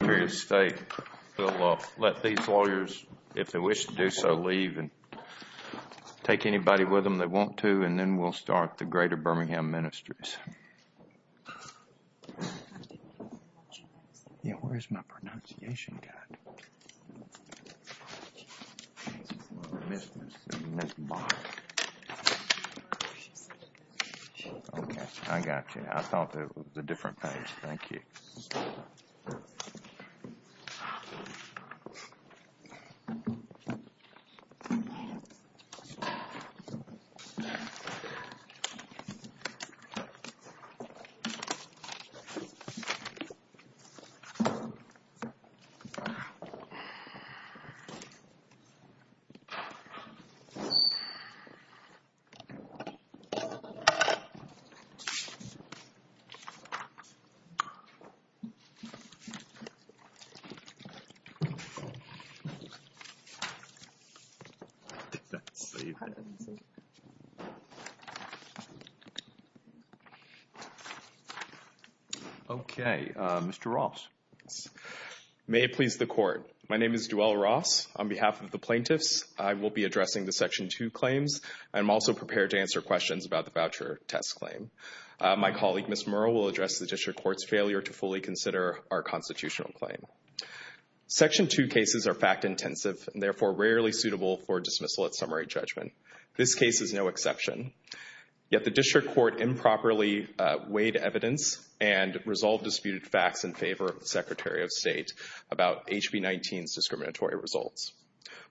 Secretary of State will let these lawyers, if they wish to do so, leave and take anybody with them that want to, and then we'll start the Greater Birmingham Ministries. Yeah, where's my pronunciation guide? Okay, I got you. I thought that it was a different page. Thank you. Okay. Okay, Mr. Ross. May it please the Court. My name is Duell Ross. On behalf of the plaintiffs, I will be addressing the Section 2 claims. I'm also prepared to answer questions about the voucher test claim. My colleague, Ms. Murrell, will address the District Court's failure to fully consider our constitutional claim. Section 2 cases are fact-intensive and therefore rarely suitable for dismissal at summary judgment. This case is no exception. Yet the District Court improperly weighed evidence and resolved disputed facts in favor of the Secretary of State about HB 19's discriminatory results.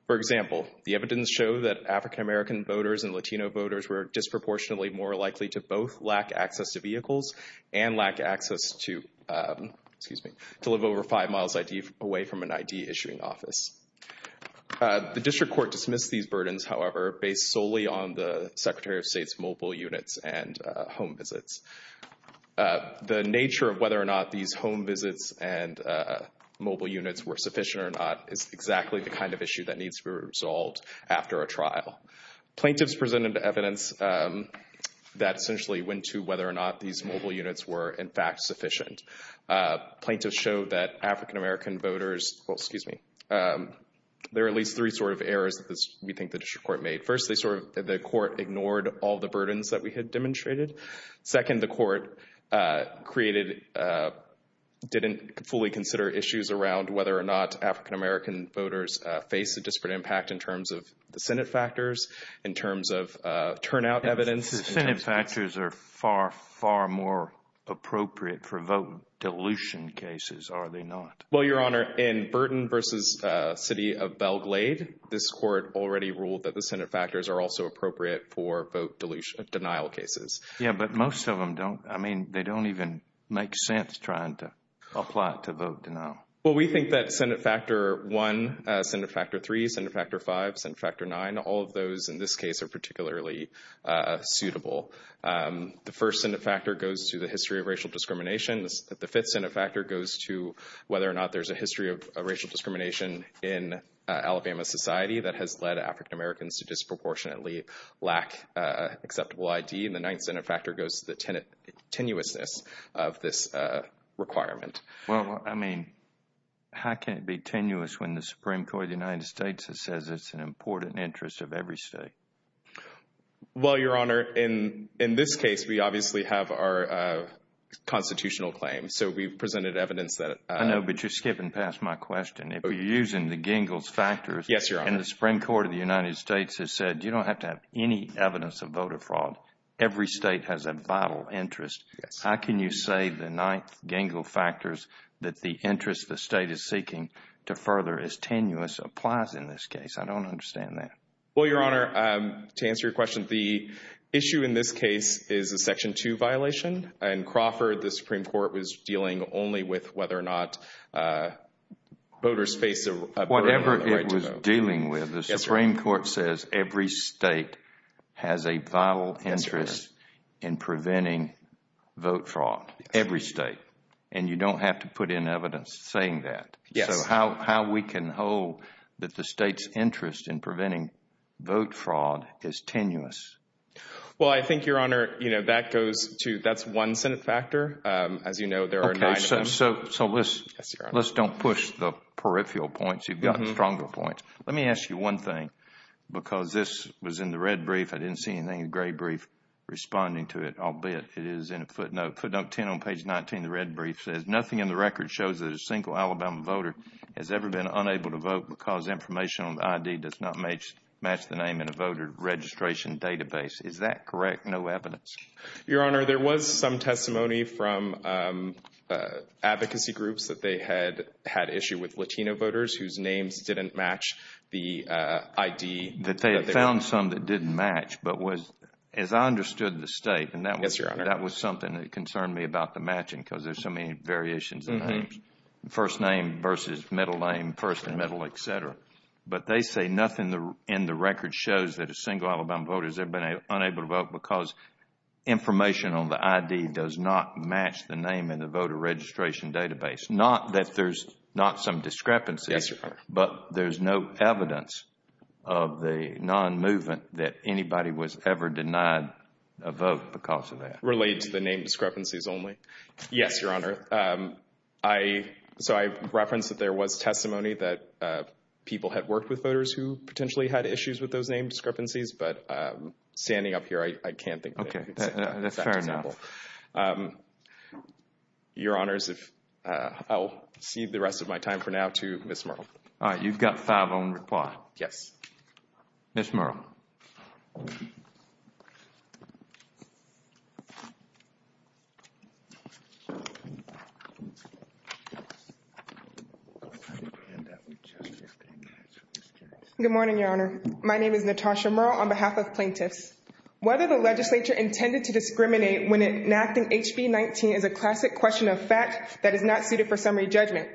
For example, the evidence showed that African American voters and Latino voters were disproportionately more likely to both lack access to vehicles and lack access to, excuse me, to live over 5 miles away from an ID issuing office. The District Court dismissed these burdens, however, based solely on the Secretary of State's mobile units and home visits. The nature of whether or not these home visits and mobile units were sufficient or not is exactly the kind of issue that needs to be resolved after a trial. Plaintiffs presented evidence that essentially went to whether or not these mobile units were, in fact, sufficient. Plaintiffs showed that African American voters, well, excuse me, there are at least three sort of errors that we think the District Court made. First, they sort of, the Court ignored all the burdens that we had demonstrated. Second, the Court created, didn't fully consider issues around whether or not African American voters face a disparate impact in terms of the Senate factors, in terms of turnout evidence. The Senate factors are far, far more appropriate for vote dilution cases, are they not? Well, Your Honor, in Burton v. City of Belle Glade, this Court already ruled that the Senate factors are also appropriate for vote denial cases. Yeah, but most of them don't, I mean, they don't even make sense trying to apply it to vote denial. Well, we think that Senate Factor 1, Senate Factor 3, Senate Factor 5, Senate Factor 9, all of those in this case are particularly suitable. The first Senate factor goes to the history of racial discrimination. The fifth Senate factor goes to whether or not there's a history of racial discrimination in Alabama society that has led African Americans to disproportionately lack acceptable ID. And the ninth Senate factor goes to the tenuousness of this requirement. Well, I mean, how can it be tenuous when the Supreme Court of the United States says it's an important interest of every state? Well, Your Honor, in this case, we obviously have our constitutional claim, so we've presented evidence that— I know, but you're skipping past my question. If you're using the Gingell's factors— Yes, Your Honor. And the Supreme Court of the United States has said you don't have to have any evidence of voter fraud. Every state has a vital interest. Yes. How can you say the ninth, Gingell factors, that the interest the state is seeking to further is tenuous, applies in this case? I don't understand that. Well, Your Honor, to answer your question, the issue in this case is a Section 2 violation. In Crawford, the Supreme Court was dealing only with whether or not voters face a burden— Whatever it was dealing with, the Supreme Court says every state has a vital interest in preventing vote fraud. Every state. And you don't have to put in evidence saying that. Yes. How we can hold that the state's interest in preventing vote fraud is tenuous. Well, I think, Your Honor, that goes to—that's one Senate factor. As you know, there are nine— Okay, so let's don't push the peripheral points. You've got stronger points. Let me ask you one thing, because this was in the red brief. I didn't see anything in the gray brief responding to it, albeit it is in a footnote. Footnote 10 on page 19 of the red brief says, nothing in the record shows that a single Alabama voter has ever been unable to vote because information on the ID does not match the name in a voter registration database. Is that correct? No evidence? Your Honor, there was some testimony from advocacy groups that they had had issue with Latino voters whose names didn't match the ID. That they had found some that didn't match, but as I understood the state— Yes, Your Honor. That was something that concerned me about the matching because there's so many variations in names. First name versus middle name, first and middle, et cetera. But they say nothing in the record shows that a single Alabama voter has ever been unable to vote because information on the ID does not match the name in the voter registration database. Not that there's not some discrepancy. Yes, Your Honor. But there's no evidence of the non-movement that anybody was ever denied a vote because of that. Related to the name discrepancies only? Yes, Your Honor. So I referenced that there was testimony that people had worked with voters who potentially had issues with those name discrepancies, but standing up here, I can't think of any. Okay, that's fair enough. Your Honors, I'll cede the rest of my time for now to Ms. Murrell. All right, you've got five on the clock. Yes. Ms. Murrell. Good morning, Your Honor. My name is Natasha Murrell on behalf of plaintiffs. Whether the legislature intended to discriminate when enacting HB 19 is a classic question of fact that is not suited for summary judgment.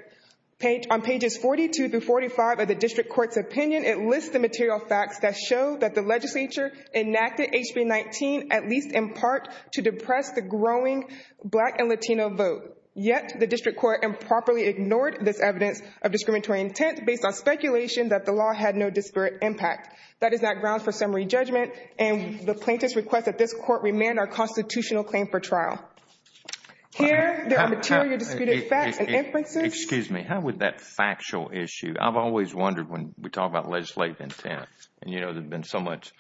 On pages 42 through 45 of the district court's opinion, it lists the material facts that show that the legislature enacted HB 19 at least in part to depress the growing black and Latino vote. Yet, the district court improperly ignored this evidence of discriminatory intent based on speculation that the law had no disparate impact. That is not ground for summary judgment and the plaintiff's request that this court remand our constitutional claim for trial. Here, there are material disputed facts and inferences. Excuse me, how would that factual issue? I've always wondered when we talk about legislative intent. And, you know, there's been so much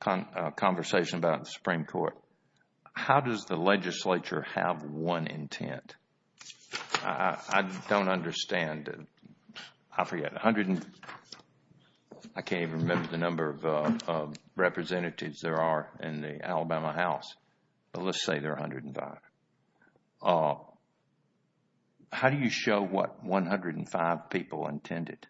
conversation about the Supreme Court. How does the legislature have one intent? I don't understand. I forget, a hundred and I can't even remember the number of representatives there are in the Alabama House. Let's say there are 105. How do you show what 105 people intended?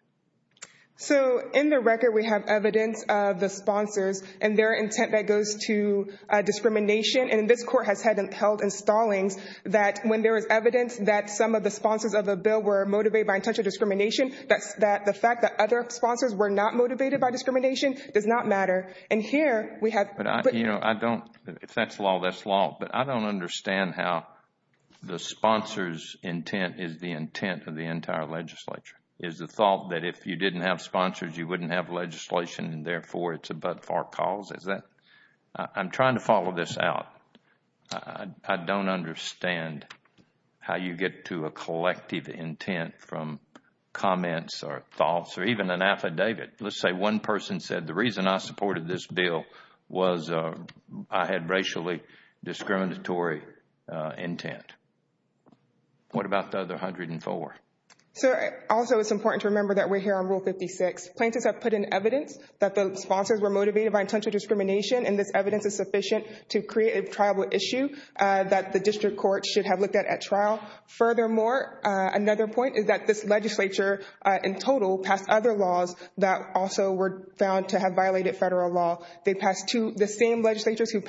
So, in the record, we have evidence of the sponsors and their intent that goes to discrimination. And this court has held installings that when there is evidence that some of the sponsors of the bill were motivated by intentional discrimination, that the fact that other sponsors were not motivated by discrimination does not matter. And here, we have. You know, I don't. If that's law, that's law. But I don't understand how the sponsor's intent is the intent of the entire legislature. Is the thought that if you didn't have sponsors, you wouldn't have legislation and, therefore, it's a but-for cause? Is that? I'm trying to follow this out. I don't understand how you get to a collective intent from comments or thoughts or even an affidavit. Let's say one person said the reason I supported this bill was I had racially discriminatory intent. What about the other 104? So, also, it's important to remember that we're here on Rule 56. Plaintiffs have put in evidence that the sponsors were motivated by intentional discrimination, and this evidence is sufficient to create a triable issue that the district court should have looked at at trial. Furthermore, another point is that this legislature, in total, passed other laws that also were found to have violated federal law. The same legislature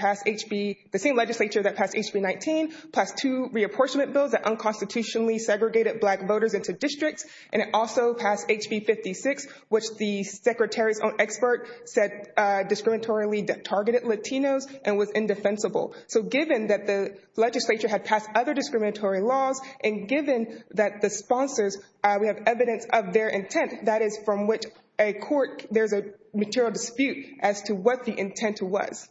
that passed HB19 passed two reapportionment bills that unconstitutionally segregated black voters into districts, and it also passed HB56, which the secretary's own expert said discriminatorily targeted Latinos and was indefensible. So, given that the legislature had passed other discriminatory laws and given that the sponsors, we have evidence of their intent, that is from which a court, there's a material dispute as to what the intent was.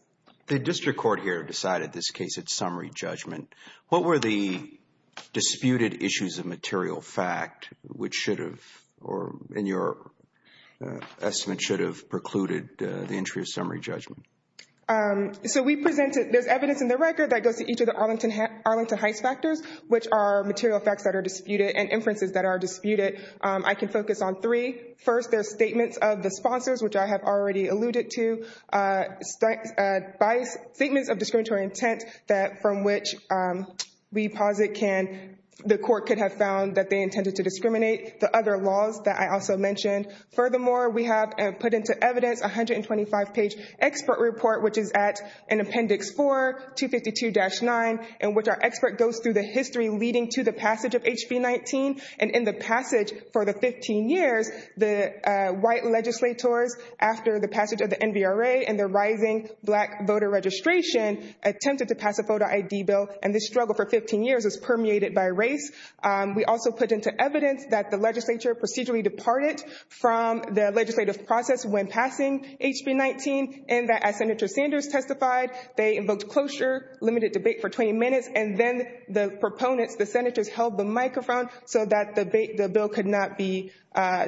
The district court here decided this case at summary judgment. What were the disputed issues of material fact which should have, or in your estimate, should have precluded the entry of summary judgment? So, we presented, there's evidence in the record that goes to each of the Arlington Heights factors, which are material facts that are disputed and inferences that are disputed. I can focus on three. First, there's statements of the sponsors, which I have already alluded to, statements of discriminatory intent from which we posit the court could have found that they intended to discriminate. The other laws that I also mentioned. Furthermore, we have put into evidence a 125-page expert report, which is at appendix 4, 252-9, in which our expert goes through the history leading to the passage of HB19 and in the passage for the 15 years, the white legislators after the passage of the NVRA and the rising black voter registration attempted to pass a voter ID bill, and this struggle for 15 years is permeated by race. We also put into evidence that the legislature procedurally departed from the legislative process when passing HB19 and that as Senator Sanders testified, they invoked closure, limited debate for 20 minutes, and then the proponents, the senators, held the microphone so that the bill could not be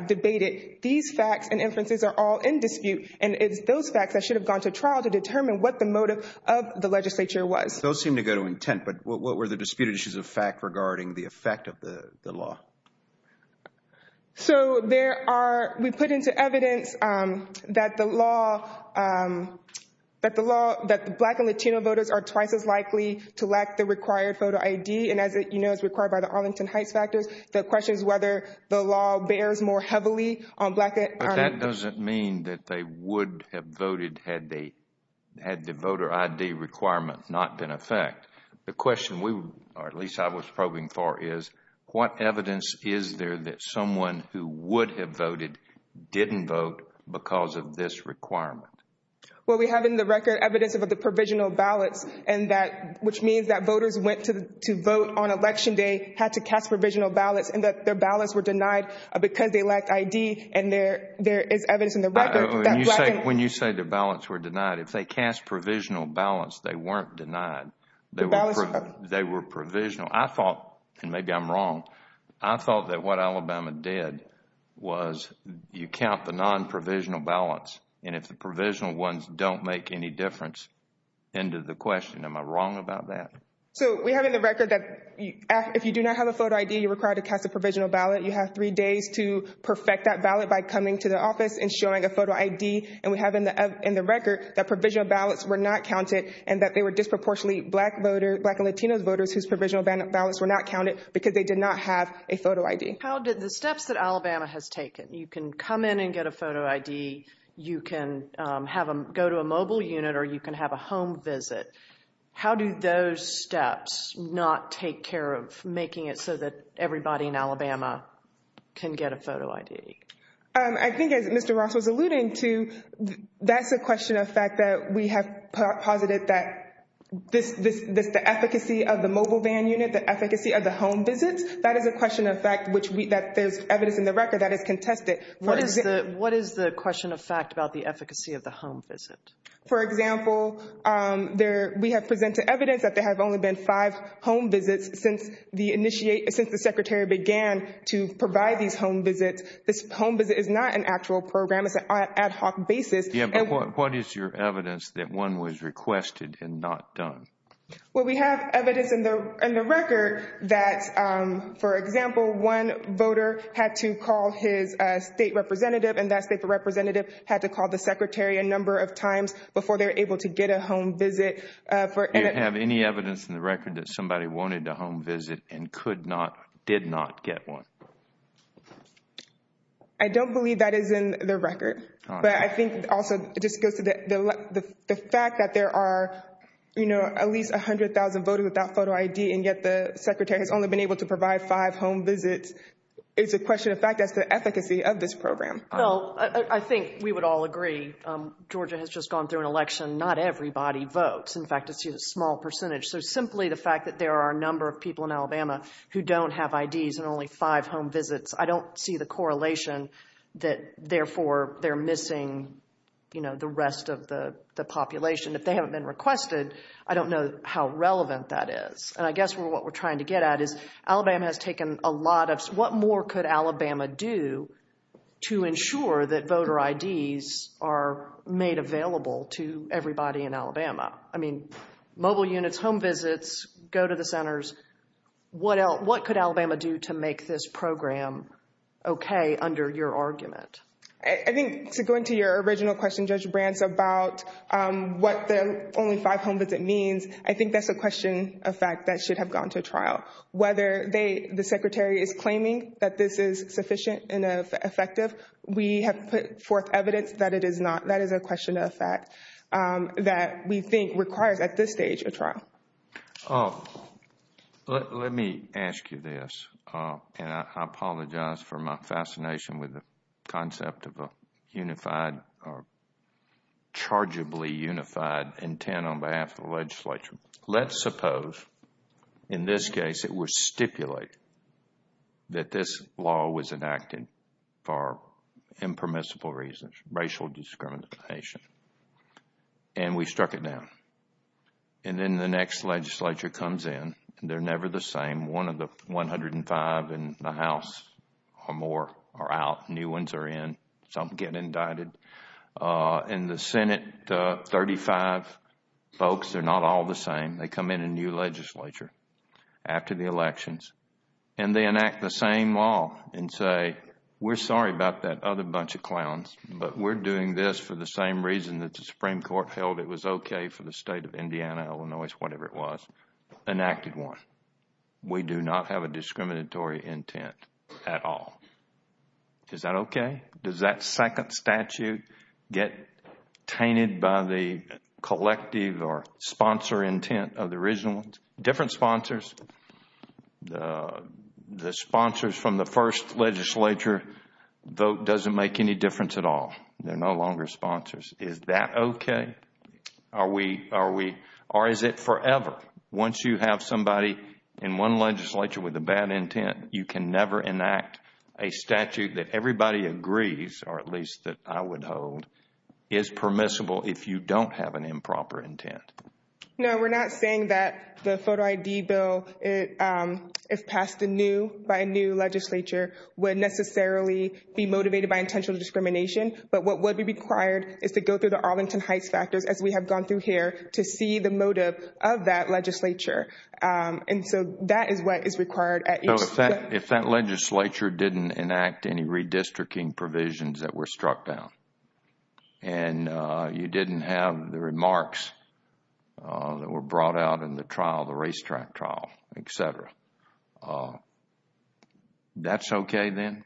debated. These facts and inferences are all in dispute, and it's those facts that should have gone to trial to determine what the motive of the legislature was. Those seem to go to intent, but what were the disputed issues of fact regarding the effect of the law? So there are, we put into evidence that the law, that the law, that the black and Latino voters are twice as likely to lack the required voter ID, and as you know, it's required by the Arlington Heights factors. The question is whether the law bears more heavily on black. But that doesn't mean that they would have voted had the, had the voter ID requirement not been in effect. The question we, or at least I was probing for is, what evidence is there that someone who would have voted didn't vote because of this requirement? Well, we have in the record evidence of the provisional ballots and that, which means that voters went to vote on Election Day, had to cast provisional ballots, and that their ballots were denied because they lacked ID, and there is evidence in the record that black and— When you say their ballots were denied, if they cast provisional ballots, they weren't denied. Their ballots were— They were provisional. I thought, and maybe I'm wrong, I thought that what Alabama did was you count the non-provisional ballots, and if the provisional ones don't make any difference, end of the question. Am I wrong about that? So we have in the record that if you do not have a photo ID, you're required to cast a provisional ballot. You have three days to perfect that ballot by coming to the office and showing a photo ID, and we have in the record that provisional ballots were not counted and that they were disproportionately black voters, black and Latino voters whose provisional ballots were not counted because they did not have a photo ID. How did the steps that Alabama has taken, you can come in and get a photo ID, you can go to a mobile unit or you can have a home visit, how do those steps not take care of making it so that everybody in Alabama can get a photo ID? I think as Mr. Ross was alluding to, that's a question of fact that we have posited that the efficacy of the mobile van unit, the efficacy of the home visits, that is a question of fact that there's evidence in the record that it's contested. What is the question of fact about the efficacy of the home visit? For example, we have presented evidence that there have only been five home visits since the Secretary began to provide these home visits. This home visit is not an actual program, it's an ad hoc basis. What is your evidence that one was requested and not done? We have evidence in the record that, for example, one voter had to call his state representative and that state representative had to call the Secretary a number of times before they were able to get a home visit. Do you have any evidence in the record that somebody wanted a home visit and could not, did not get one? I don't believe that is in the record. But I think also it just goes to the fact that there are, you know, at least 100,000 voters without photo ID and yet the Secretary has only been able to provide five home visits. It's a question of fact that's the efficacy of this program. Well, I think we would all agree. Georgia has just gone through an election. Not everybody votes. In fact, it's a small percentage. So simply the fact that there are a number of people in Alabama who don't have IDs and only five home visits, I don't see the correlation that therefore they're missing, you know, the rest of the population. If they haven't been requested, I don't know how relevant that is. And I guess what we're trying to get at is Alabama has taken a lot of, what more could Alabama do to ensure that voter IDs are made available to everybody in Alabama? I mean, mobile units, home visits, go to the centers. What could Alabama do to make this program okay under your argument? I think to go into your original question, Judge Brant, about what the only five home visit means, I think that's a question of fact that should have gone to trial. Whether the Secretary is claiming that this is sufficient and effective, we have put forth evidence that it is not. That is a question of fact that we think requires at this stage a trial. Let me ask you this, and I apologize for my fascination with the concept of a unified or chargeably unified intent on behalf of the legislature. Let's suppose in this case it was stipulated that this law was enacted for impermissible reasons, racial discrimination, and we struck it down. And then the next legislature comes in, and they're never the same. One of the 105 in the House or more are out. New ones are in. Some get indicted. In the Senate, 35 folks, they're not all the same. They come in a new legislature after the elections, and they enact the same law and say, we're sorry about that other bunch of clowns, but we're doing this for the same reason that the Supreme Court held it was okay for the State of Indiana, Illinois, whatever it was, enacted one. We do not have a discriminatory intent at all. Is that okay? Does that second statute get tainted by the collective or sponsor intent of the original? Different sponsors. The sponsors from the first legislature vote doesn't make any difference at all. They're no longer sponsors. Is that okay? Or is it forever? Once you have somebody in one legislature with a bad intent, you can never enact a statute that everybody agrees, or at least that I would hold, is permissible if you don't have an improper intent. No, we're not saying that the photo ID bill, if passed by a new legislature, would necessarily be motivated by intentional discrimination. But what would be required is to go through the Arlington Heights factors, as we have gone through here, to see the motive of that legislature. That is what is required. If that legislature didn't enact any redistricting provisions that were struck down and you didn't have the remarks that were brought out in the trial, the racetrack trial, et cetera, that's okay then?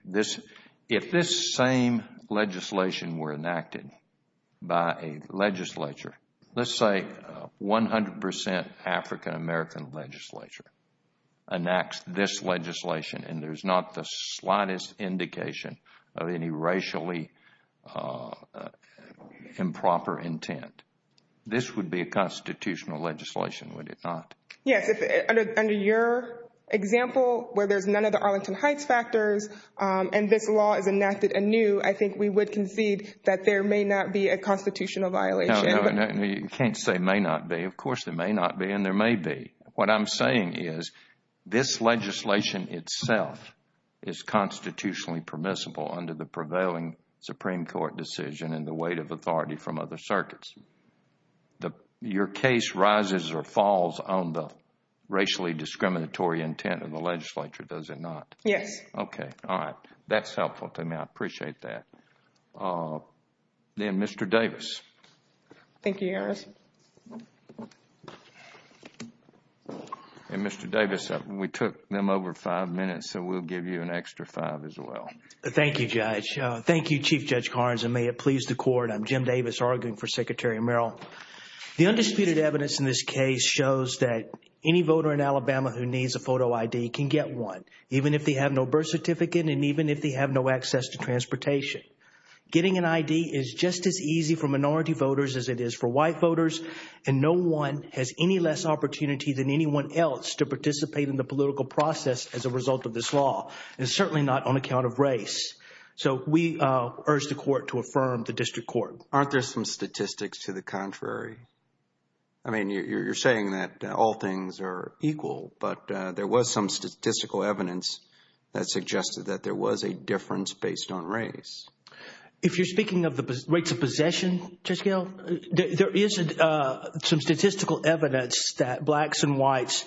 If this same legislation were enacted by a legislature, let's say 100 percent African American legislature enacts this legislation and there's not the slightest indication of any racially improper intent, this would be a constitutional legislation, would it not? Yes. Under your example, where there's none of the Arlington Heights factors and this law is enacted anew, I think we would concede that there may not be a constitutional violation. No, you can't say may not be. Of course there may not be and there may be. What I'm saying is this legislation itself is constitutionally permissible under the prevailing Supreme Court decision and the weight of authority from other circuits. Your case rises or falls on the racially discriminatory intent of the legislature, does it not? Yes. Okay, all right. That's helpful to me. I appreciate that. Then Mr. Davis. Thank you, Your Honor. Mr. Davis, we took them over five minutes so we'll give you an extra five as well. Thank you, Judge. Thank you, Chief Judge Carnes and may it please the Court. I'm Jim Davis arguing for Secretary Merrill. The undisputed evidence in this case shows that any voter in Alabama who needs a photo ID can get one, even if they have no birth certificate and even if they have no access to transportation. Getting an ID is just as easy for minority voters as it is for white voters and no one has any less opportunity than anyone else to participate in the political process as a result of this law and certainly not on account of race. So we urge the Court to affirm the district court. Aren't there some statistics to the contrary? I mean, you're saying that all things are equal, but there was some statistical evidence that suggested that there was a difference based on race. If you're speaking of the rates of possession, Judge Gale, there is some statistical evidence that blacks and whites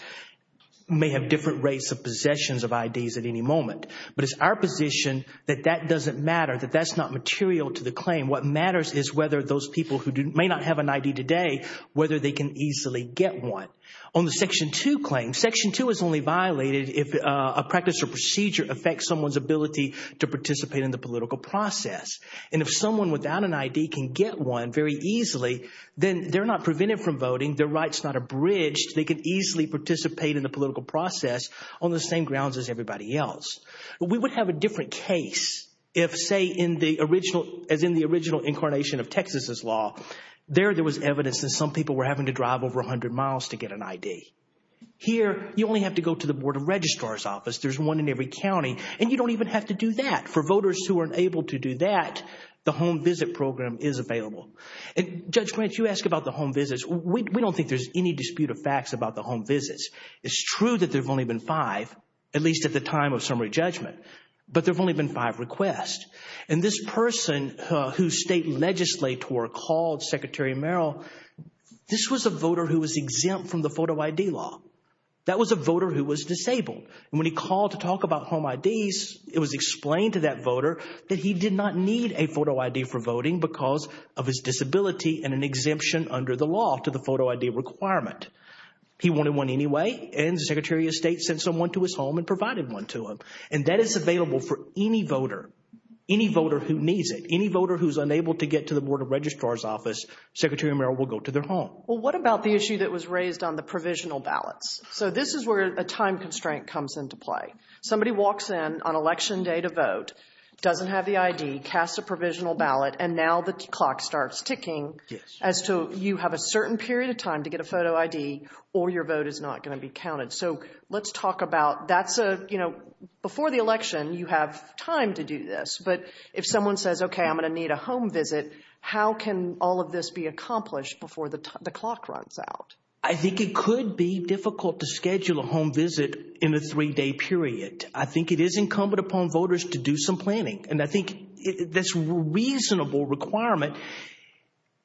may have different rates of possessions of IDs at any moment. But it's our position that that doesn't matter, that that's not material to the claim. What matters is whether those people who may not have an ID today, whether they can easily get one. On the Section 2 claim, Section 2 is only violated if a practice or procedure affects someone's ability to participate in the political process. And if someone without an ID can get one very easily, then they're not prevented from voting, their rights not abridged, they can easily participate in the political process on the same grounds as everybody else. We would have a different case if, say, as in the original incarnation of Texas's law, there there was evidence that some people were having to drive over 100 miles to get an ID. Here, you only have to go to the Board of Registrar's office. There's one in every county, and you don't even have to do that. For voters who are unable to do that, the home visit program is available. And Judge Grant, you ask about the home visits. We don't think there's any dispute of facts about the home visits. It's true that there have only been five, at least at the time of summary judgment, but there have only been five requests. And this person whose state legislator called Secretary Merrill, this was a voter who was exempt from the photo ID law. That was a voter who was disabled. And when he called to talk about home IDs, it was explained to that voter that he did not need a photo ID for voting because of his disability and an exemption under the law to the photo ID requirement. He wanted one anyway, and the Secretary of State sent someone to his home and provided one to him. And that is available for any voter, any voter who needs it. Any voter who's unable to get to the Board of Registrar's office, Secretary Merrill will go to their home. Well, what about the issue that was raised on the provisional ballots? So this is where a time constraint comes into play. Somebody walks in on election day to vote, doesn't have the ID, casts a provisional ballot, and now the clock starts ticking as to you have a certain period of time to get a photo ID or your vote is not going to be counted. So let's talk about that's a, you know, before the election, you have time to do this. But if someone says, okay, I'm going to need a home visit, how can all of this be accomplished before the clock runs out? I think it could be difficult to schedule a home visit in a three-day period. I think it is incumbent upon voters to do some planning. And I think this reasonable requirement,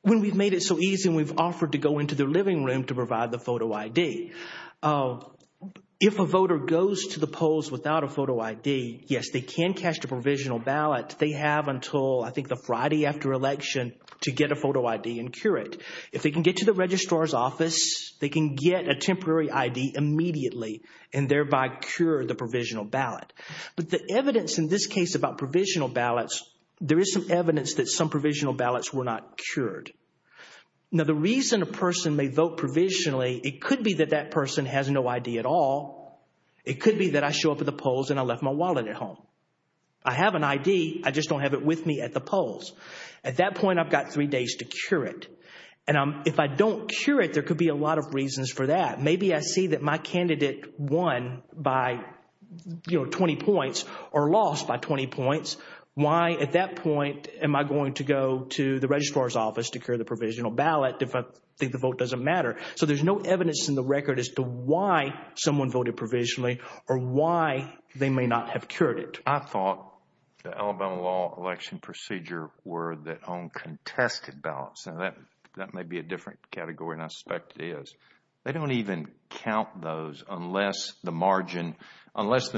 when we've made it so easy and we've offered to go into their living room to provide the photo ID, if a voter goes to the polls without a photo ID, yes, they can cast a provisional ballot. They have until I think the Friday after election to get a photo ID and cure it. If they can get to the Registrar's office, they can get a temporary ID immediately and thereby cure the provisional ballot. But the evidence in this case about provisional ballots, there is some evidence that some provisional ballots were not cured. Now, the reason a person may vote provisionally, it could be that that person has no ID at all. It could be that I show up at the polls and I left my wallet at home. I have an ID, I just don't have it with me at the polls. At that point, I've got three days to cure it. And if I don't cure it, there could be a lot of reasons for that. Maybe I see that my candidate won by 20 points or lost by 20 points. Why at that point am I going to go to the Registrar's office to cure the provisional ballot if I think the vote doesn't matter? So there's no evidence in the record as to why someone voted provisionally or why they may not have cured it. I thought the Alabama law election procedure were that on contested ballots. Now, that may be a different category than I suspect it is. They don't even count those unless the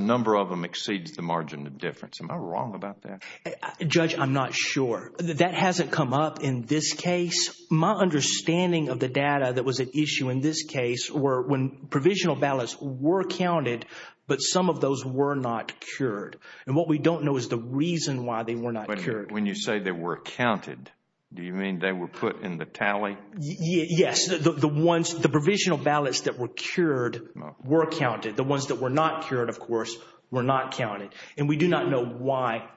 number of them exceeds the margin of difference. Am I wrong about that? Judge, I'm not sure. That hasn't come up in this case. My understanding of the data that was at issue in this case were when provisional ballots were counted but some of those were not cured. And what we don't know is the reason why they were not cured. When you say they were counted, do you mean they were put in the tally? Yes. The ones, the provisional ballots that were cured were counted. The ones that were not cured, of course, were not counted. And we do not know why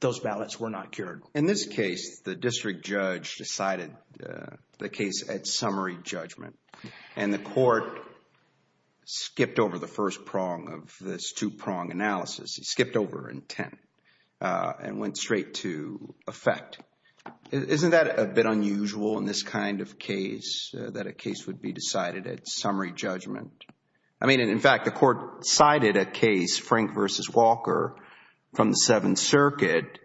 those ballots were not cured. In this case, the district judge decided the case at summary judgment and the court skipped over the first prong of this two-prong analysis. It skipped over intent and went straight to effect. Isn't that a bit unusual in this kind of case that a case would be decided at summary judgment? I mean, in fact, the court cited a case, Frank v. Walker, from the Seventh Circuit.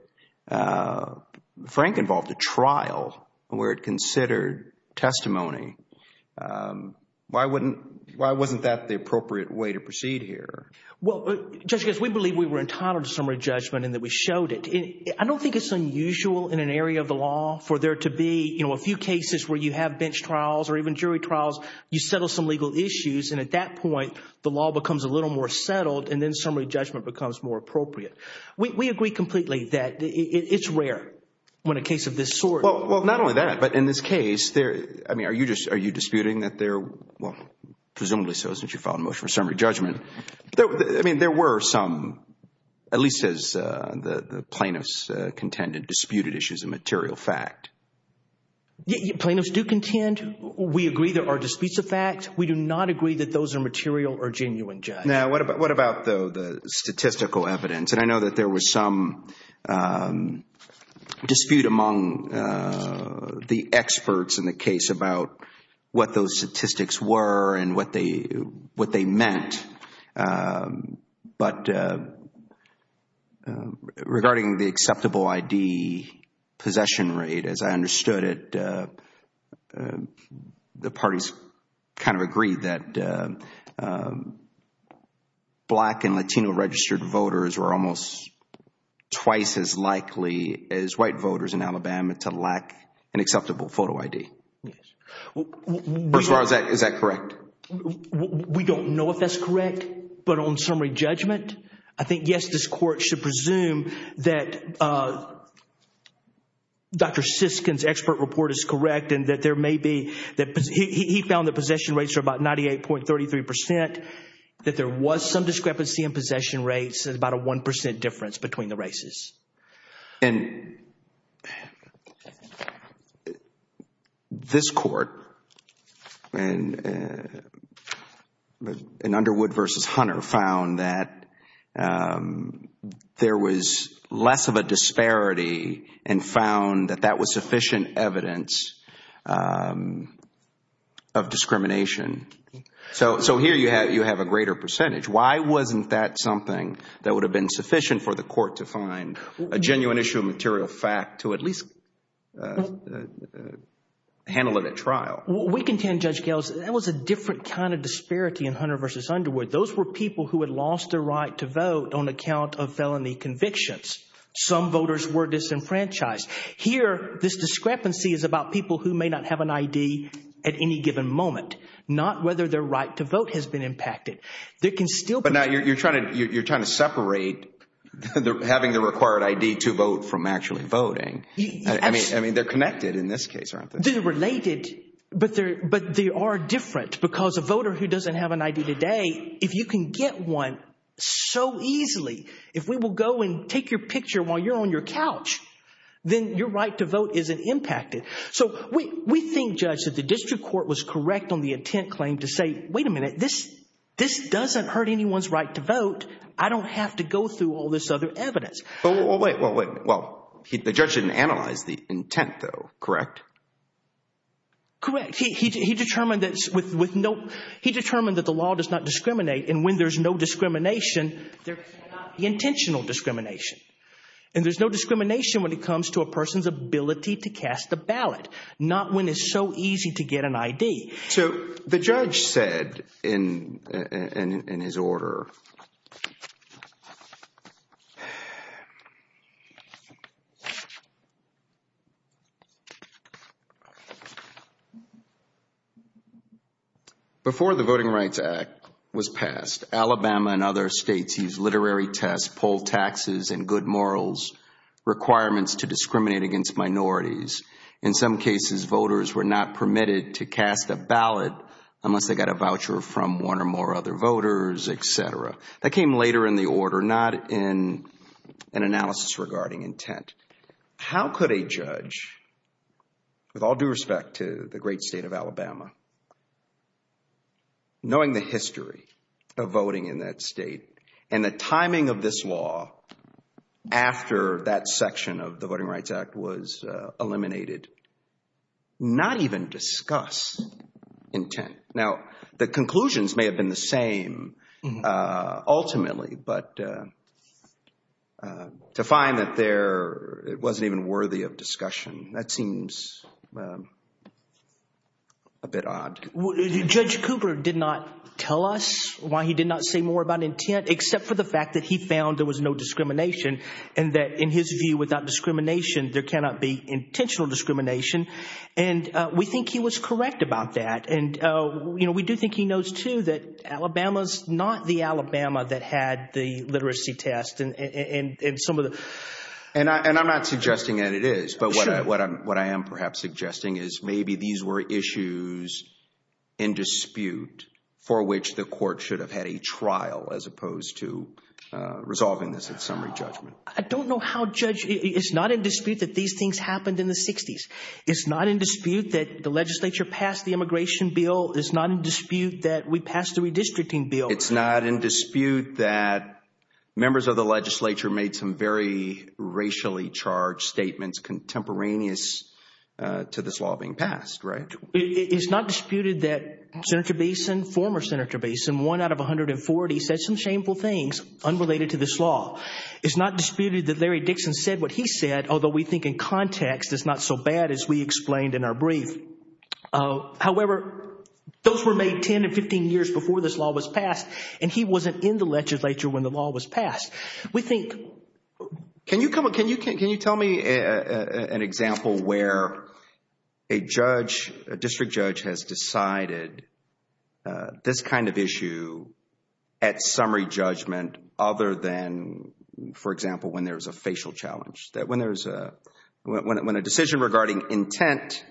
Frank involved a trial where it considered testimony. Why wasn't that the appropriate way to proceed here? Well, Judge, we believe we were entitled to summary judgment and that we showed it. I don't think it's unusual in an area of the law for there to be, you know, a few cases where you have bench trials or even jury trials. You settle some legal issues, and at that point, the law becomes a little more settled, and then summary judgment becomes more appropriate. We agree completely that it's rare when a case of this sort— Well, not only that, but in this case, I mean, are you disputing that there— well, presumably so since you filed a motion for summary judgment. I mean, there were some, at least as the plaintiffs contended, disputed issues of material fact. Plaintiffs do contend. We agree there are disputes of fact. We do not agree that those are material or genuine, Judge. Now, what about the statistical evidence? And I know that there was some dispute among the experts in the case about what those statistics were and what they meant, but regarding the acceptable ID possession rate, as I understood it, the parties kind of agreed that black and Latino registered voters were almost twice as likely as white voters in Alabama to lack an acceptable photo ID. First of all, is that correct? We don't know if that's correct, but on summary judgment, I think, yes, this Court should presume that Dr. Siskin's expert report is correct and that there may be—he found that possession rates are about 98.33 percent, that there was some discrepancy in possession rates, about a 1 percent difference between the races. And this Court in Underwood v. Hunter found that there was less of a disparity and found that that was sufficient evidence of discrimination. So here you have a greater percentage. Why wasn't that something that would have been sufficient for the Court to find a genuine issue of material fact to at least handle it at trial? We contend, Judge Gales, that was a different kind of disparity in Hunter v. Underwood. Those were people who had lost their right to vote on account of felony convictions. Some voters were disenfranchised. Here, this discrepancy is about people who may not have an ID at any given moment, not whether their right to vote has been impacted. There can still be— But now you're trying to separate having the required ID to vote from actually voting. I mean, they're connected in this case, aren't they? They're related, but they are different because a voter who doesn't have an ID today, if you can get one so easily, if we will go and take your picture while you're on your couch, then your right to vote isn't impacted. So we think, Judge, that the district court was correct on the intent claim to say, wait a minute. This doesn't hurt anyone's right to vote. I don't have to go through all this other evidence. Well, wait. The judge didn't analyze the intent, though, correct? Correct. He determined that the law does not discriminate, and when there's no discrimination, there cannot be intentional discrimination. And there's no discrimination when it comes to a person's ability to cast a ballot, not when it's so easy to get an ID. The judge said in his order, before the Voting Rights Act was passed, Alabama and other states used literary tests, poll taxes, and good morals requirements to discriminate against minorities. In some cases, voters were not permitted to cast a ballot unless they got a voucher from one or more other voters, et cetera. That came later in the order, not in an analysis regarding intent. How could a judge, with all due respect to the great state of Alabama, knowing the history of voting in that state and the timing of this law after that section of the Voting Rights Act was eliminated, not even discuss intent? Now, the conclusions may have been the same ultimately, but to find that there wasn't even worthy of discussion, that seems a bit odd. Judge Cooper did not tell us why he did not say more about intent except for the fact that he found there was no discrimination and that, in his view, without discrimination, there cannot be intentional discrimination. We think he was correct about that. We do think he knows, too, that Alabama is not the Alabama that had the literacy test. I'm not suggesting that it is. What I am perhaps suggesting is maybe these were issues in dispute for which the court should have had a trial as opposed to resolving this at summary judgment. I don't know how judge—it's not in dispute that these things happened in the 60s. It's not in dispute that the legislature passed the immigration bill. It's not in dispute that we passed the redistricting bill. It's not in dispute that members of the legislature made some very racially charged statements contemporaneous to this law being passed, right? It's not disputed that Senator Beeson, former Senator Beeson, one out of 140 said some shameful things unrelated to this law. It's not disputed that Larry Dixon said what he said, although we think in context it's not so bad as we explained in our brief. However, those were made 10 to 15 years before this law was passed, and he wasn't in the legislature when the law was passed. We think— Can you tell me an example where a judge, a district judge, has decided this kind of issue at summary judgment other than, for example, when there's a facial challenge, when a decision regarding intent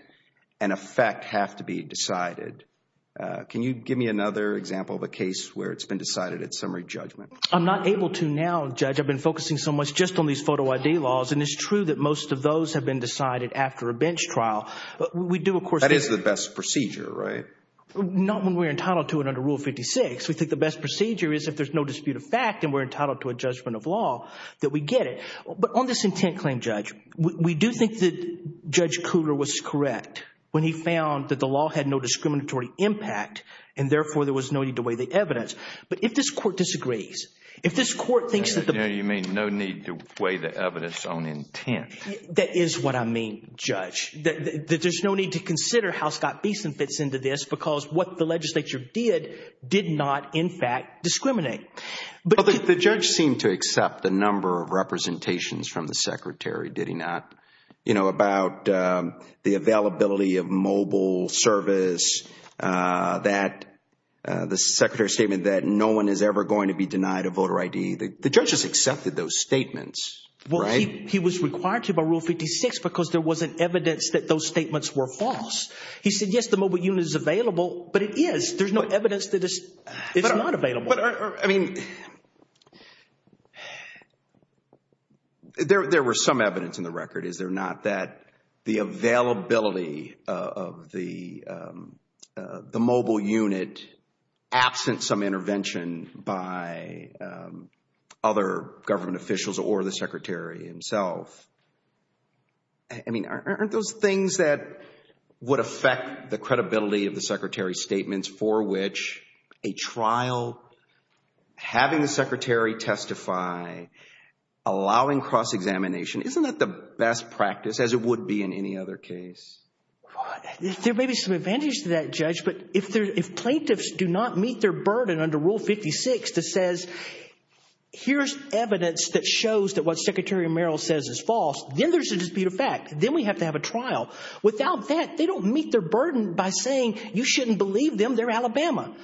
and effect have to be decided? Can you give me another example of a case where it's been decided at summary judgment? I'm not able to now, Judge. I've been focusing so much just on these photo ID laws, and it's true that most of those have been decided after a bench trial. We do, of course— That is the best procedure, right? Not when we're entitled to it under Rule 56. We think the best procedure is if there's no dispute of fact and we're entitled to a judgment of law that we get it. But on this intent claim, Judge, we do think that Judge Cooter was correct when he found that the law had no discriminatory impact and therefore there was no need to weigh the evidence. But if this court disagrees, if this court thinks that the— You mean no need to weigh the evidence on intent. That is what I mean, Judge, that there's no need to consider how Scott Beeson fits into this because what the legislature did did not, in fact, discriminate. The judge seemed to accept a number of representations from the secretary, did he not, about the availability of mobile service, the secretary's statement that no one is ever going to be denied a voter ID. The judge has accepted those statements, right? He was required to by Rule 56 because there wasn't evidence that those statements were false. He said, yes, the mobile unit is available, but it is. There's no evidence that it's not available. But, I mean, there was some evidence in the record, is there not, that the availability of the mobile unit, absent some intervention by other government officials or the secretary himself, I mean, aren't those things that would affect the credibility of the secretary's statements for which a trial, having the secretary testify, allowing cross-examination, isn't that the best practice as it would be in any other case? There may be some advantage to that, Judge, but if plaintiffs do not meet their burden under Rule 56 that says, here's evidence that shows that what Secretary Merrill says is false, then there's a dispute of fact, then we have to have a trial. Without that, they don't meet their burden by saying, you shouldn't believe them, they're Alabama.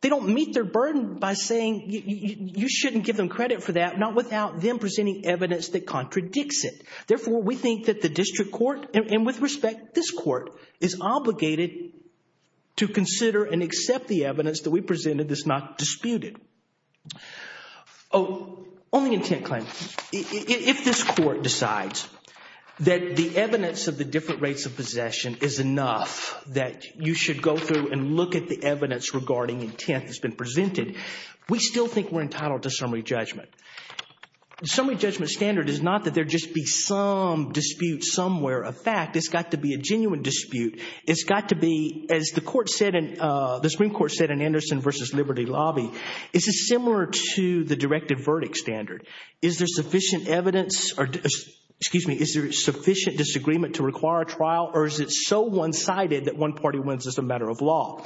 They don't meet their burden by saying, you shouldn't give them credit for that, not without them presenting evidence that contradicts it. Therefore, we think that the district court, and with respect, this court, is obligated to consider and accept the evidence that we presented that's not disputed. Oh, on the intent claim. If this court decides that the evidence of the different rates of possession is enough that you should go through and look at the evidence regarding intent that's been presented, we still think we're entitled to summary judgment. The summary judgment standard is not that there just be some dispute somewhere of fact. It's got to be a genuine dispute. It's got to be, as the Supreme Court said in Anderson v. Liberty Lobby, it's similar to the directed verdict standard. Is there sufficient evidence or, excuse me, is there sufficient disagreement to require a trial, or is it so one-sided that one party wins as a matter of law?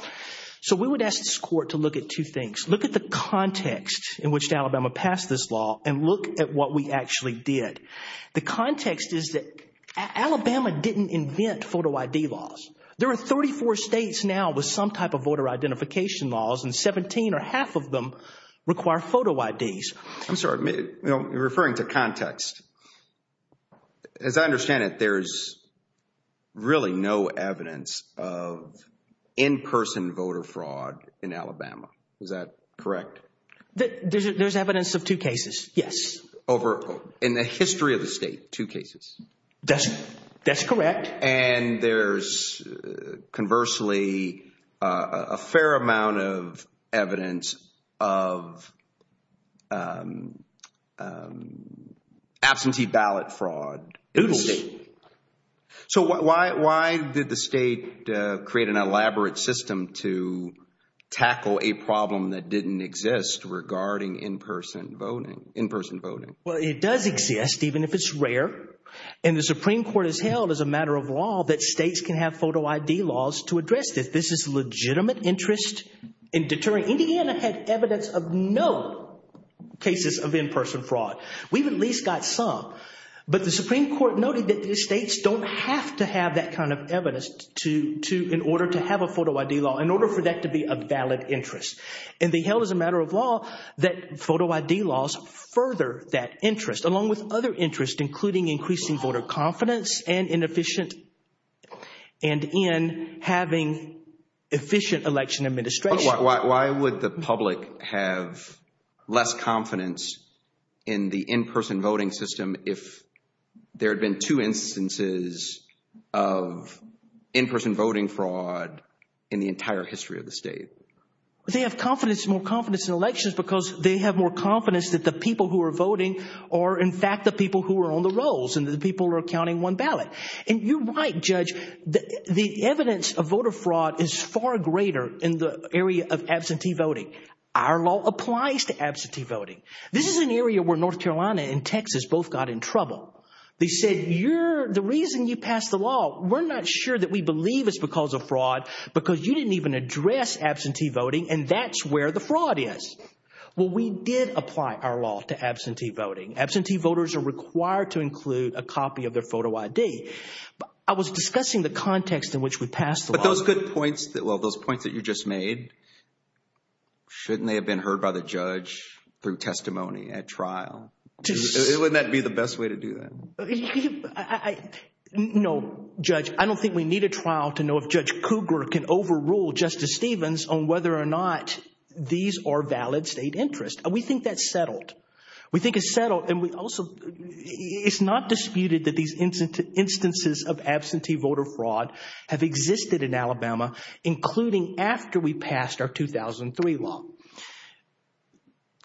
So we would ask this court to look at two things. Look at the context in which Alabama passed this law and look at what we actually did. The context is that Alabama didn't invent photo ID laws. There are 34 states now with some type of voter identification laws and 17 or half of them require photo IDs. I'm sorry, referring to context, as I understand it, there's really no evidence of in-person voter fraud in Alabama. Is that correct? There's evidence of two cases, yes. In the history of the state, two cases? That's correct. And there's conversely a fair amount of evidence of absentee ballot fraud. Doodles. So why did the state create an elaborate system to tackle a problem that didn't exist regarding in-person voting? Well, it does exist, even if it's rare. And the Supreme Court has held as a matter of law that states can have photo ID laws to address this. This is legitimate interest in deterring. Indiana had evidence of no cases of in-person fraud. We've at least got some. But the Supreme Court noted that the states don't have to have that kind of evidence in order to have a photo ID law, in order for that to be a valid interest. And they held as a matter of law that photo ID laws further that interest, along with other interests, including increasing voter confidence and in having efficient election administration. Why would the public have less confidence in the in-person voting system if there had been two instances of in-person voting fraud in the entire history of the state? They have confidence, more confidence in elections because they have more confidence that the people who are voting are, in fact, the people who are on the rolls and the people who are counting one ballot. And you're right, Judge. The evidence of voter fraud is far greater in the area of absentee voting. Our law applies to absentee voting. This is an area where North Carolina and Texas both got in trouble. They said, the reason you passed the law, we're not sure that we believe it's because of fraud because you didn't even address absentee voting and that's where the fraud is. Well, we did apply our law to absentee voting. Absentee voters are required to include a copy of their photo ID. I was discussing the context in which we passed the law. But those good points, well, those points that you just made, shouldn't they have been heard by the judge through testimony at trial? Wouldn't that be the best way to do that? No, Judge. I don't think we need a trial to know if Judge Cougar can overrule Justice Stevens on whether or not these are valid state interests. We think that's settled. We think it's settled and we also, it's not disputed that these instances of absentee voter fraud have existed in Alabama, including after we passed our 2003 law.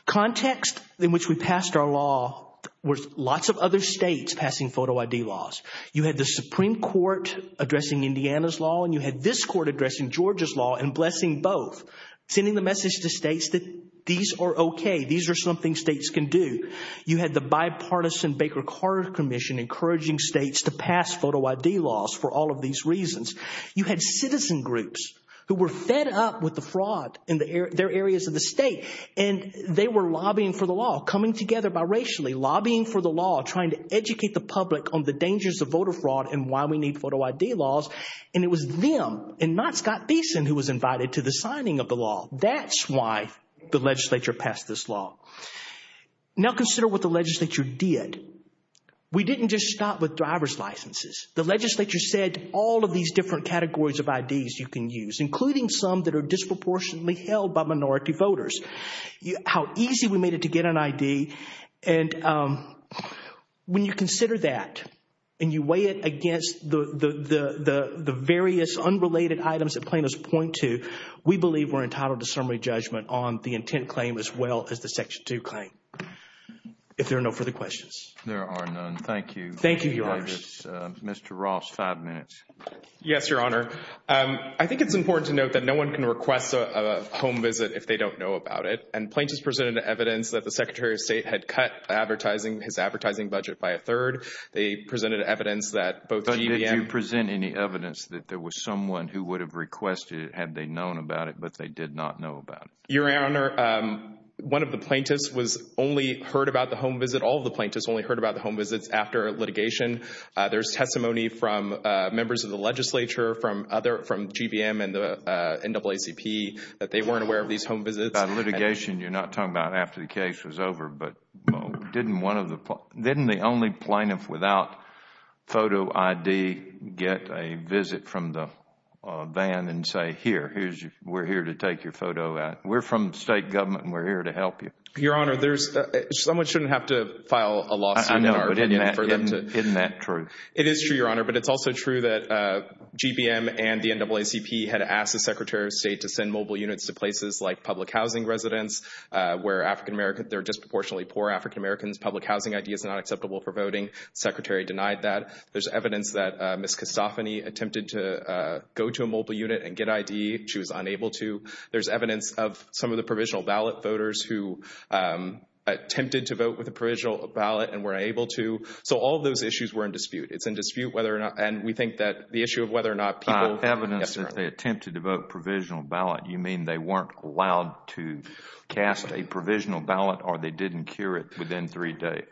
Context in which we passed our law was lots of other states passing photo ID laws. You had the Supreme Court addressing Indiana's law and you had this court addressing Georgia's law and blessing both, sending the message to states that these are okay, these are something states can do. You had the bipartisan Baker-Carter Commission encouraging states to pass photo ID laws for all of these reasons. You had citizen groups who were fed up with the fraud in their areas of the state and they were lobbying for the law, coming together biracially, lobbying for the law, trying to educate the public on the dangers of voter fraud and why we need photo ID laws. And it was them and not Scott Beeson who was invited to the signing of the law. That's why the legislature passed this law. Now consider what the legislature did. We didn't just stop with driver's licenses. The legislature said all of these different categories of IDs you can use, including some that are disproportionately held by minority voters. How easy we made it to get an ID. And when you consider that and you weigh it against the various unrelated items that plaintiffs point to, we believe we're entitled to summary judgment on the intent claim as well as the Section 2 claim. If there are no further questions. There are none. Thank you. Thank you, Your Honor. Mr. Ross, five minutes. Yes, Your Honor. I think it's important to note that no one can request a home visit if they don't know about it. And plaintiffs presented evidence that the Secretary of State had cut advertising, his advertising budget by a third. They presented evidence that both GBM. Did you present any evidence that there was someone who would have requested it had they known about it, but they did not know about it? Your Honor, one of the plaintiffs was only heard about the home visit. I believe that all of the plaintiffs only heard about the home visits after litigation. There's testimony from members of the legislature, from GBM and the NAACP, that they weren't aware of these home visits. By litigation, you're not talking about after the case was over. But didn't the only plaintiff without photo ID get a visit from the van and say, here, we're here to take your photo. We're from the State Government and we're here to help you. Your Honor, someone shouldn't have to file a lawsuit. I know, but isn't that true? It is true, Your Honor. But it's also true that GBM and the NAACP had asked the Secretary of State to send mobile units to places like public housing residents, where they're disproportionately poor African Americans. Public housing ID is not acceptable for voting. The Secretary denied that. There's evidence that Ms. Castafany attempted to go to a mobile unit and get ID. She was unable to. There's evidence of some of the provisional ballot voters who attempted to vote with a provisional ballot and weren't able to. So all of those issues were in dispute. It's in dispute whether or not – and we think that the issue of whether or not people – By evidence that they attempted to vote provisional ballot, you mean they weren't allowed to cast a provisional ballot or they didn't cure it within three days?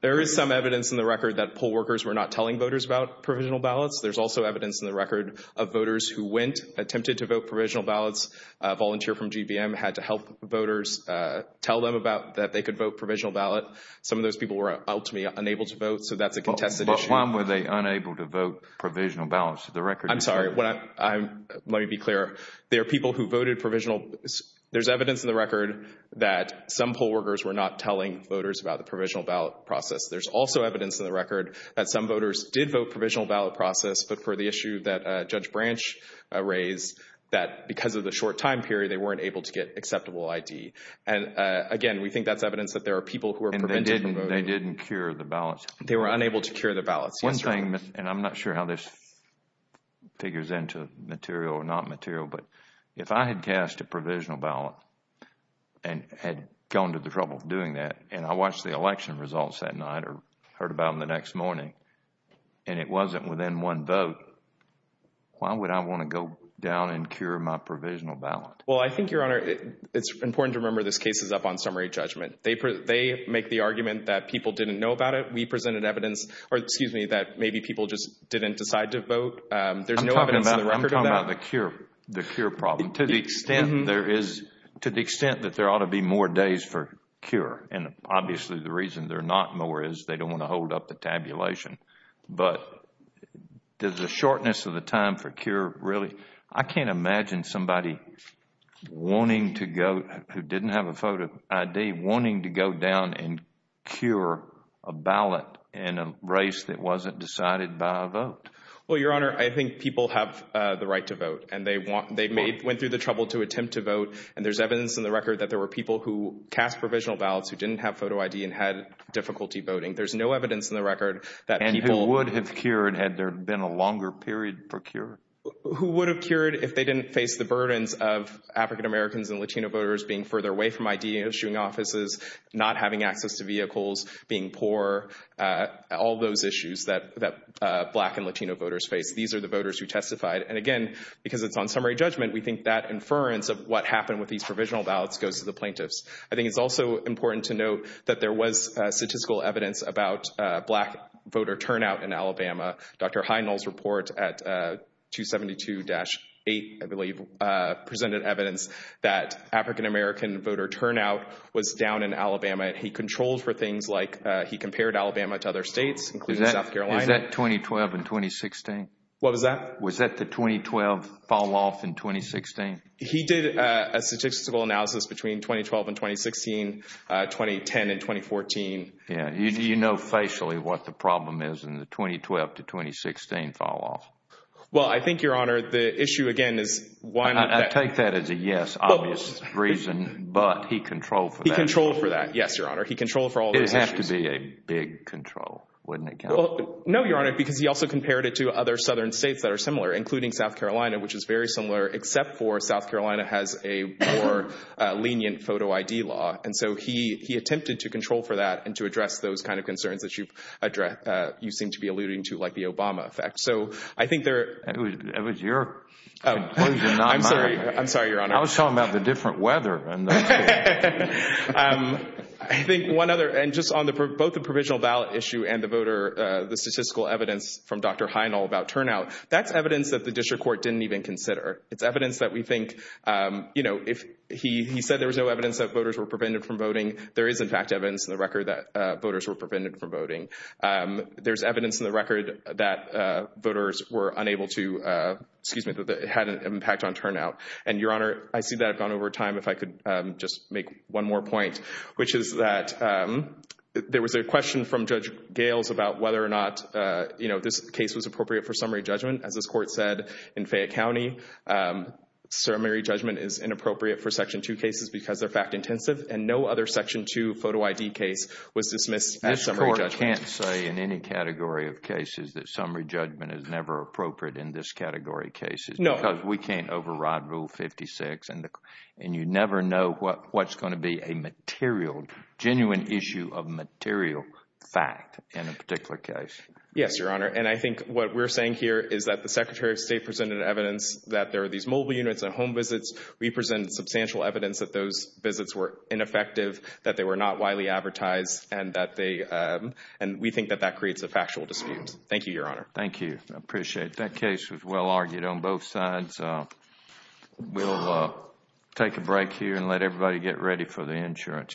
There is some evidence in the record that poll workers were not telling voters about provisional ballots. There's also evidence in the record of voters who went, attempted to vote provisional ballots. A volunteer from GBM had to help voters tell them about – that they could vote provisional ballot. Some of those people were ultimately unable to vote. So that's a contested issue. But why were they unable to vote provisional ballots? The record – I'm sorry. Let me be clear. There are people who voted provisional – there's evidence in the record that some poll workers were not telling voters about the provisional ballot process. There's also evidence in the record that some voters did vote provisional ballot process, but for the issue that Judge Branch raised, that because of the short time period, they weren't able to get acceptable ID. And again, we think that's evidence that there are people who were prevented from voting. And they didn't cure the ballots? They were unable to cure the ballots. One thing, and I'm not sure how this figures into material or not material, but if I had cast a provisional ballot and had gone to the trouble of doing that, and I watched the election results that night or heard about them the next morning, and it wasn't within one vote, why would I want to go down and cure my provisional ballot? Well, I think, Your Honor, it's important to remember this case is up on summary judgment. They make the argument that people didn't know about it. We presented evidence – or, excuse me, that maybe people just didn't decide to vote. There's no evidence in the record of that. I'm talking about the cure problem. To the extent there is – to the extent that there ought to be more days for cure, and obviously the reason there are not more is they don't want to hold up the tabulation, but does the shortness of the time for cure really – I can't imagine somebody wanting to go, who didn't have a photo ID, wanting to go down and cure a ballot in a race that wasn't decided by a vote. Well, Your Honor, I think people have the right to vote, and they went through the trouble to attempt to vote, and there's evidence in the record that there were people who cast provisional ballots who didn't have photo ID and had difficulty voting. There's no evidence in the record that people – And who would have cured had there been a longer period for cure? Who would have cured if they didn't face the burdens of African Americans and Latino voters being further away from ID and issuing offices, not having access to vehicles, being poor, all those issues that Black and Latino voters face. These are the voters who testified. And again, because it's on summary judgment, we think that inference of what happened with these provisional ballots goes to the plaintiffs. I think it's also important to note that there was statistical evidence about Black voter turnout in Alabama. Dr. Heinel's report at 272-8, I believe, presented evidence that African American voter turnout was down in Alabama. He controlled for things like he compared Alabama to other states, including South Carolina. Is that 2012 and 2016? What was that? Was that the 2012 fall-off and 2016? He did a statistical analysis between 2012 and 2016, 2010 and 2014. Yeah, you know facially what the problem is in the 2012 to 2016 fall-off. Well, I think, Your Honor, the issue, again, is why not – I take that as a yes, obvious reason, but he controlled for that. He controlled for that, yes, Your Honor. He controlled for all those issues. It would have to be a big control, wouldn't it, Counsel? No, Your Honor, because he also compared it to other southern states that are similar, including South Carolina, which is very similar, except for South Carolina has a more lenient photo ID law. And so he attempted to control for that and to address those kind of concerns that you seem to be alluding to, like the Obama effect. That was your conclusion, not mine. I'm sorry, Your Honor. I was talking about the different weather. I think one other, and just on both the provisional ballot issue and the voter, the statistical evidence from Dr. Heinl about turnout, that's evidence that the district court didn't even consider. It's evidence that we think, you know, if he said there was no evidence that voters were prevented from voting, there is, in fact, evidence in the record that voters were prevented from voting. There's evidence in the record that voters were unable to, excuse me, that it had an impact on turnout. And, Your Honor, I see that I've gone over time. If I could just make one more point, which is that there was a question from Judge Gales about whether or not, you know, this case was appropriate for summary judgment. As this court said in Fayette County, summary judgment is inappropriate for Section 2 cases because they're fact intensive, and no other Section 2 photo ID case was dismissed as summary judgment. You can't say in any category of cases that summary judgment is never appropriate in this category of cases. No. Because we can't override Rule 56, and you never know what's going to be a material, genuine issue of material fact in a particular case. Yes, Your Honor, and I think what we're saying here is that the Secretary of State presented evidence that there are these mobile units and home visits. We presented substantial evidence that those visits were ineffective, that they were not widely advertised, and that they, and we think that that creates a factual dispute. Thank you, Your Honor. Thank you. I appreciate it. That case was well argued on both sides. We'll take a break here and let everybody get ready for the insurance.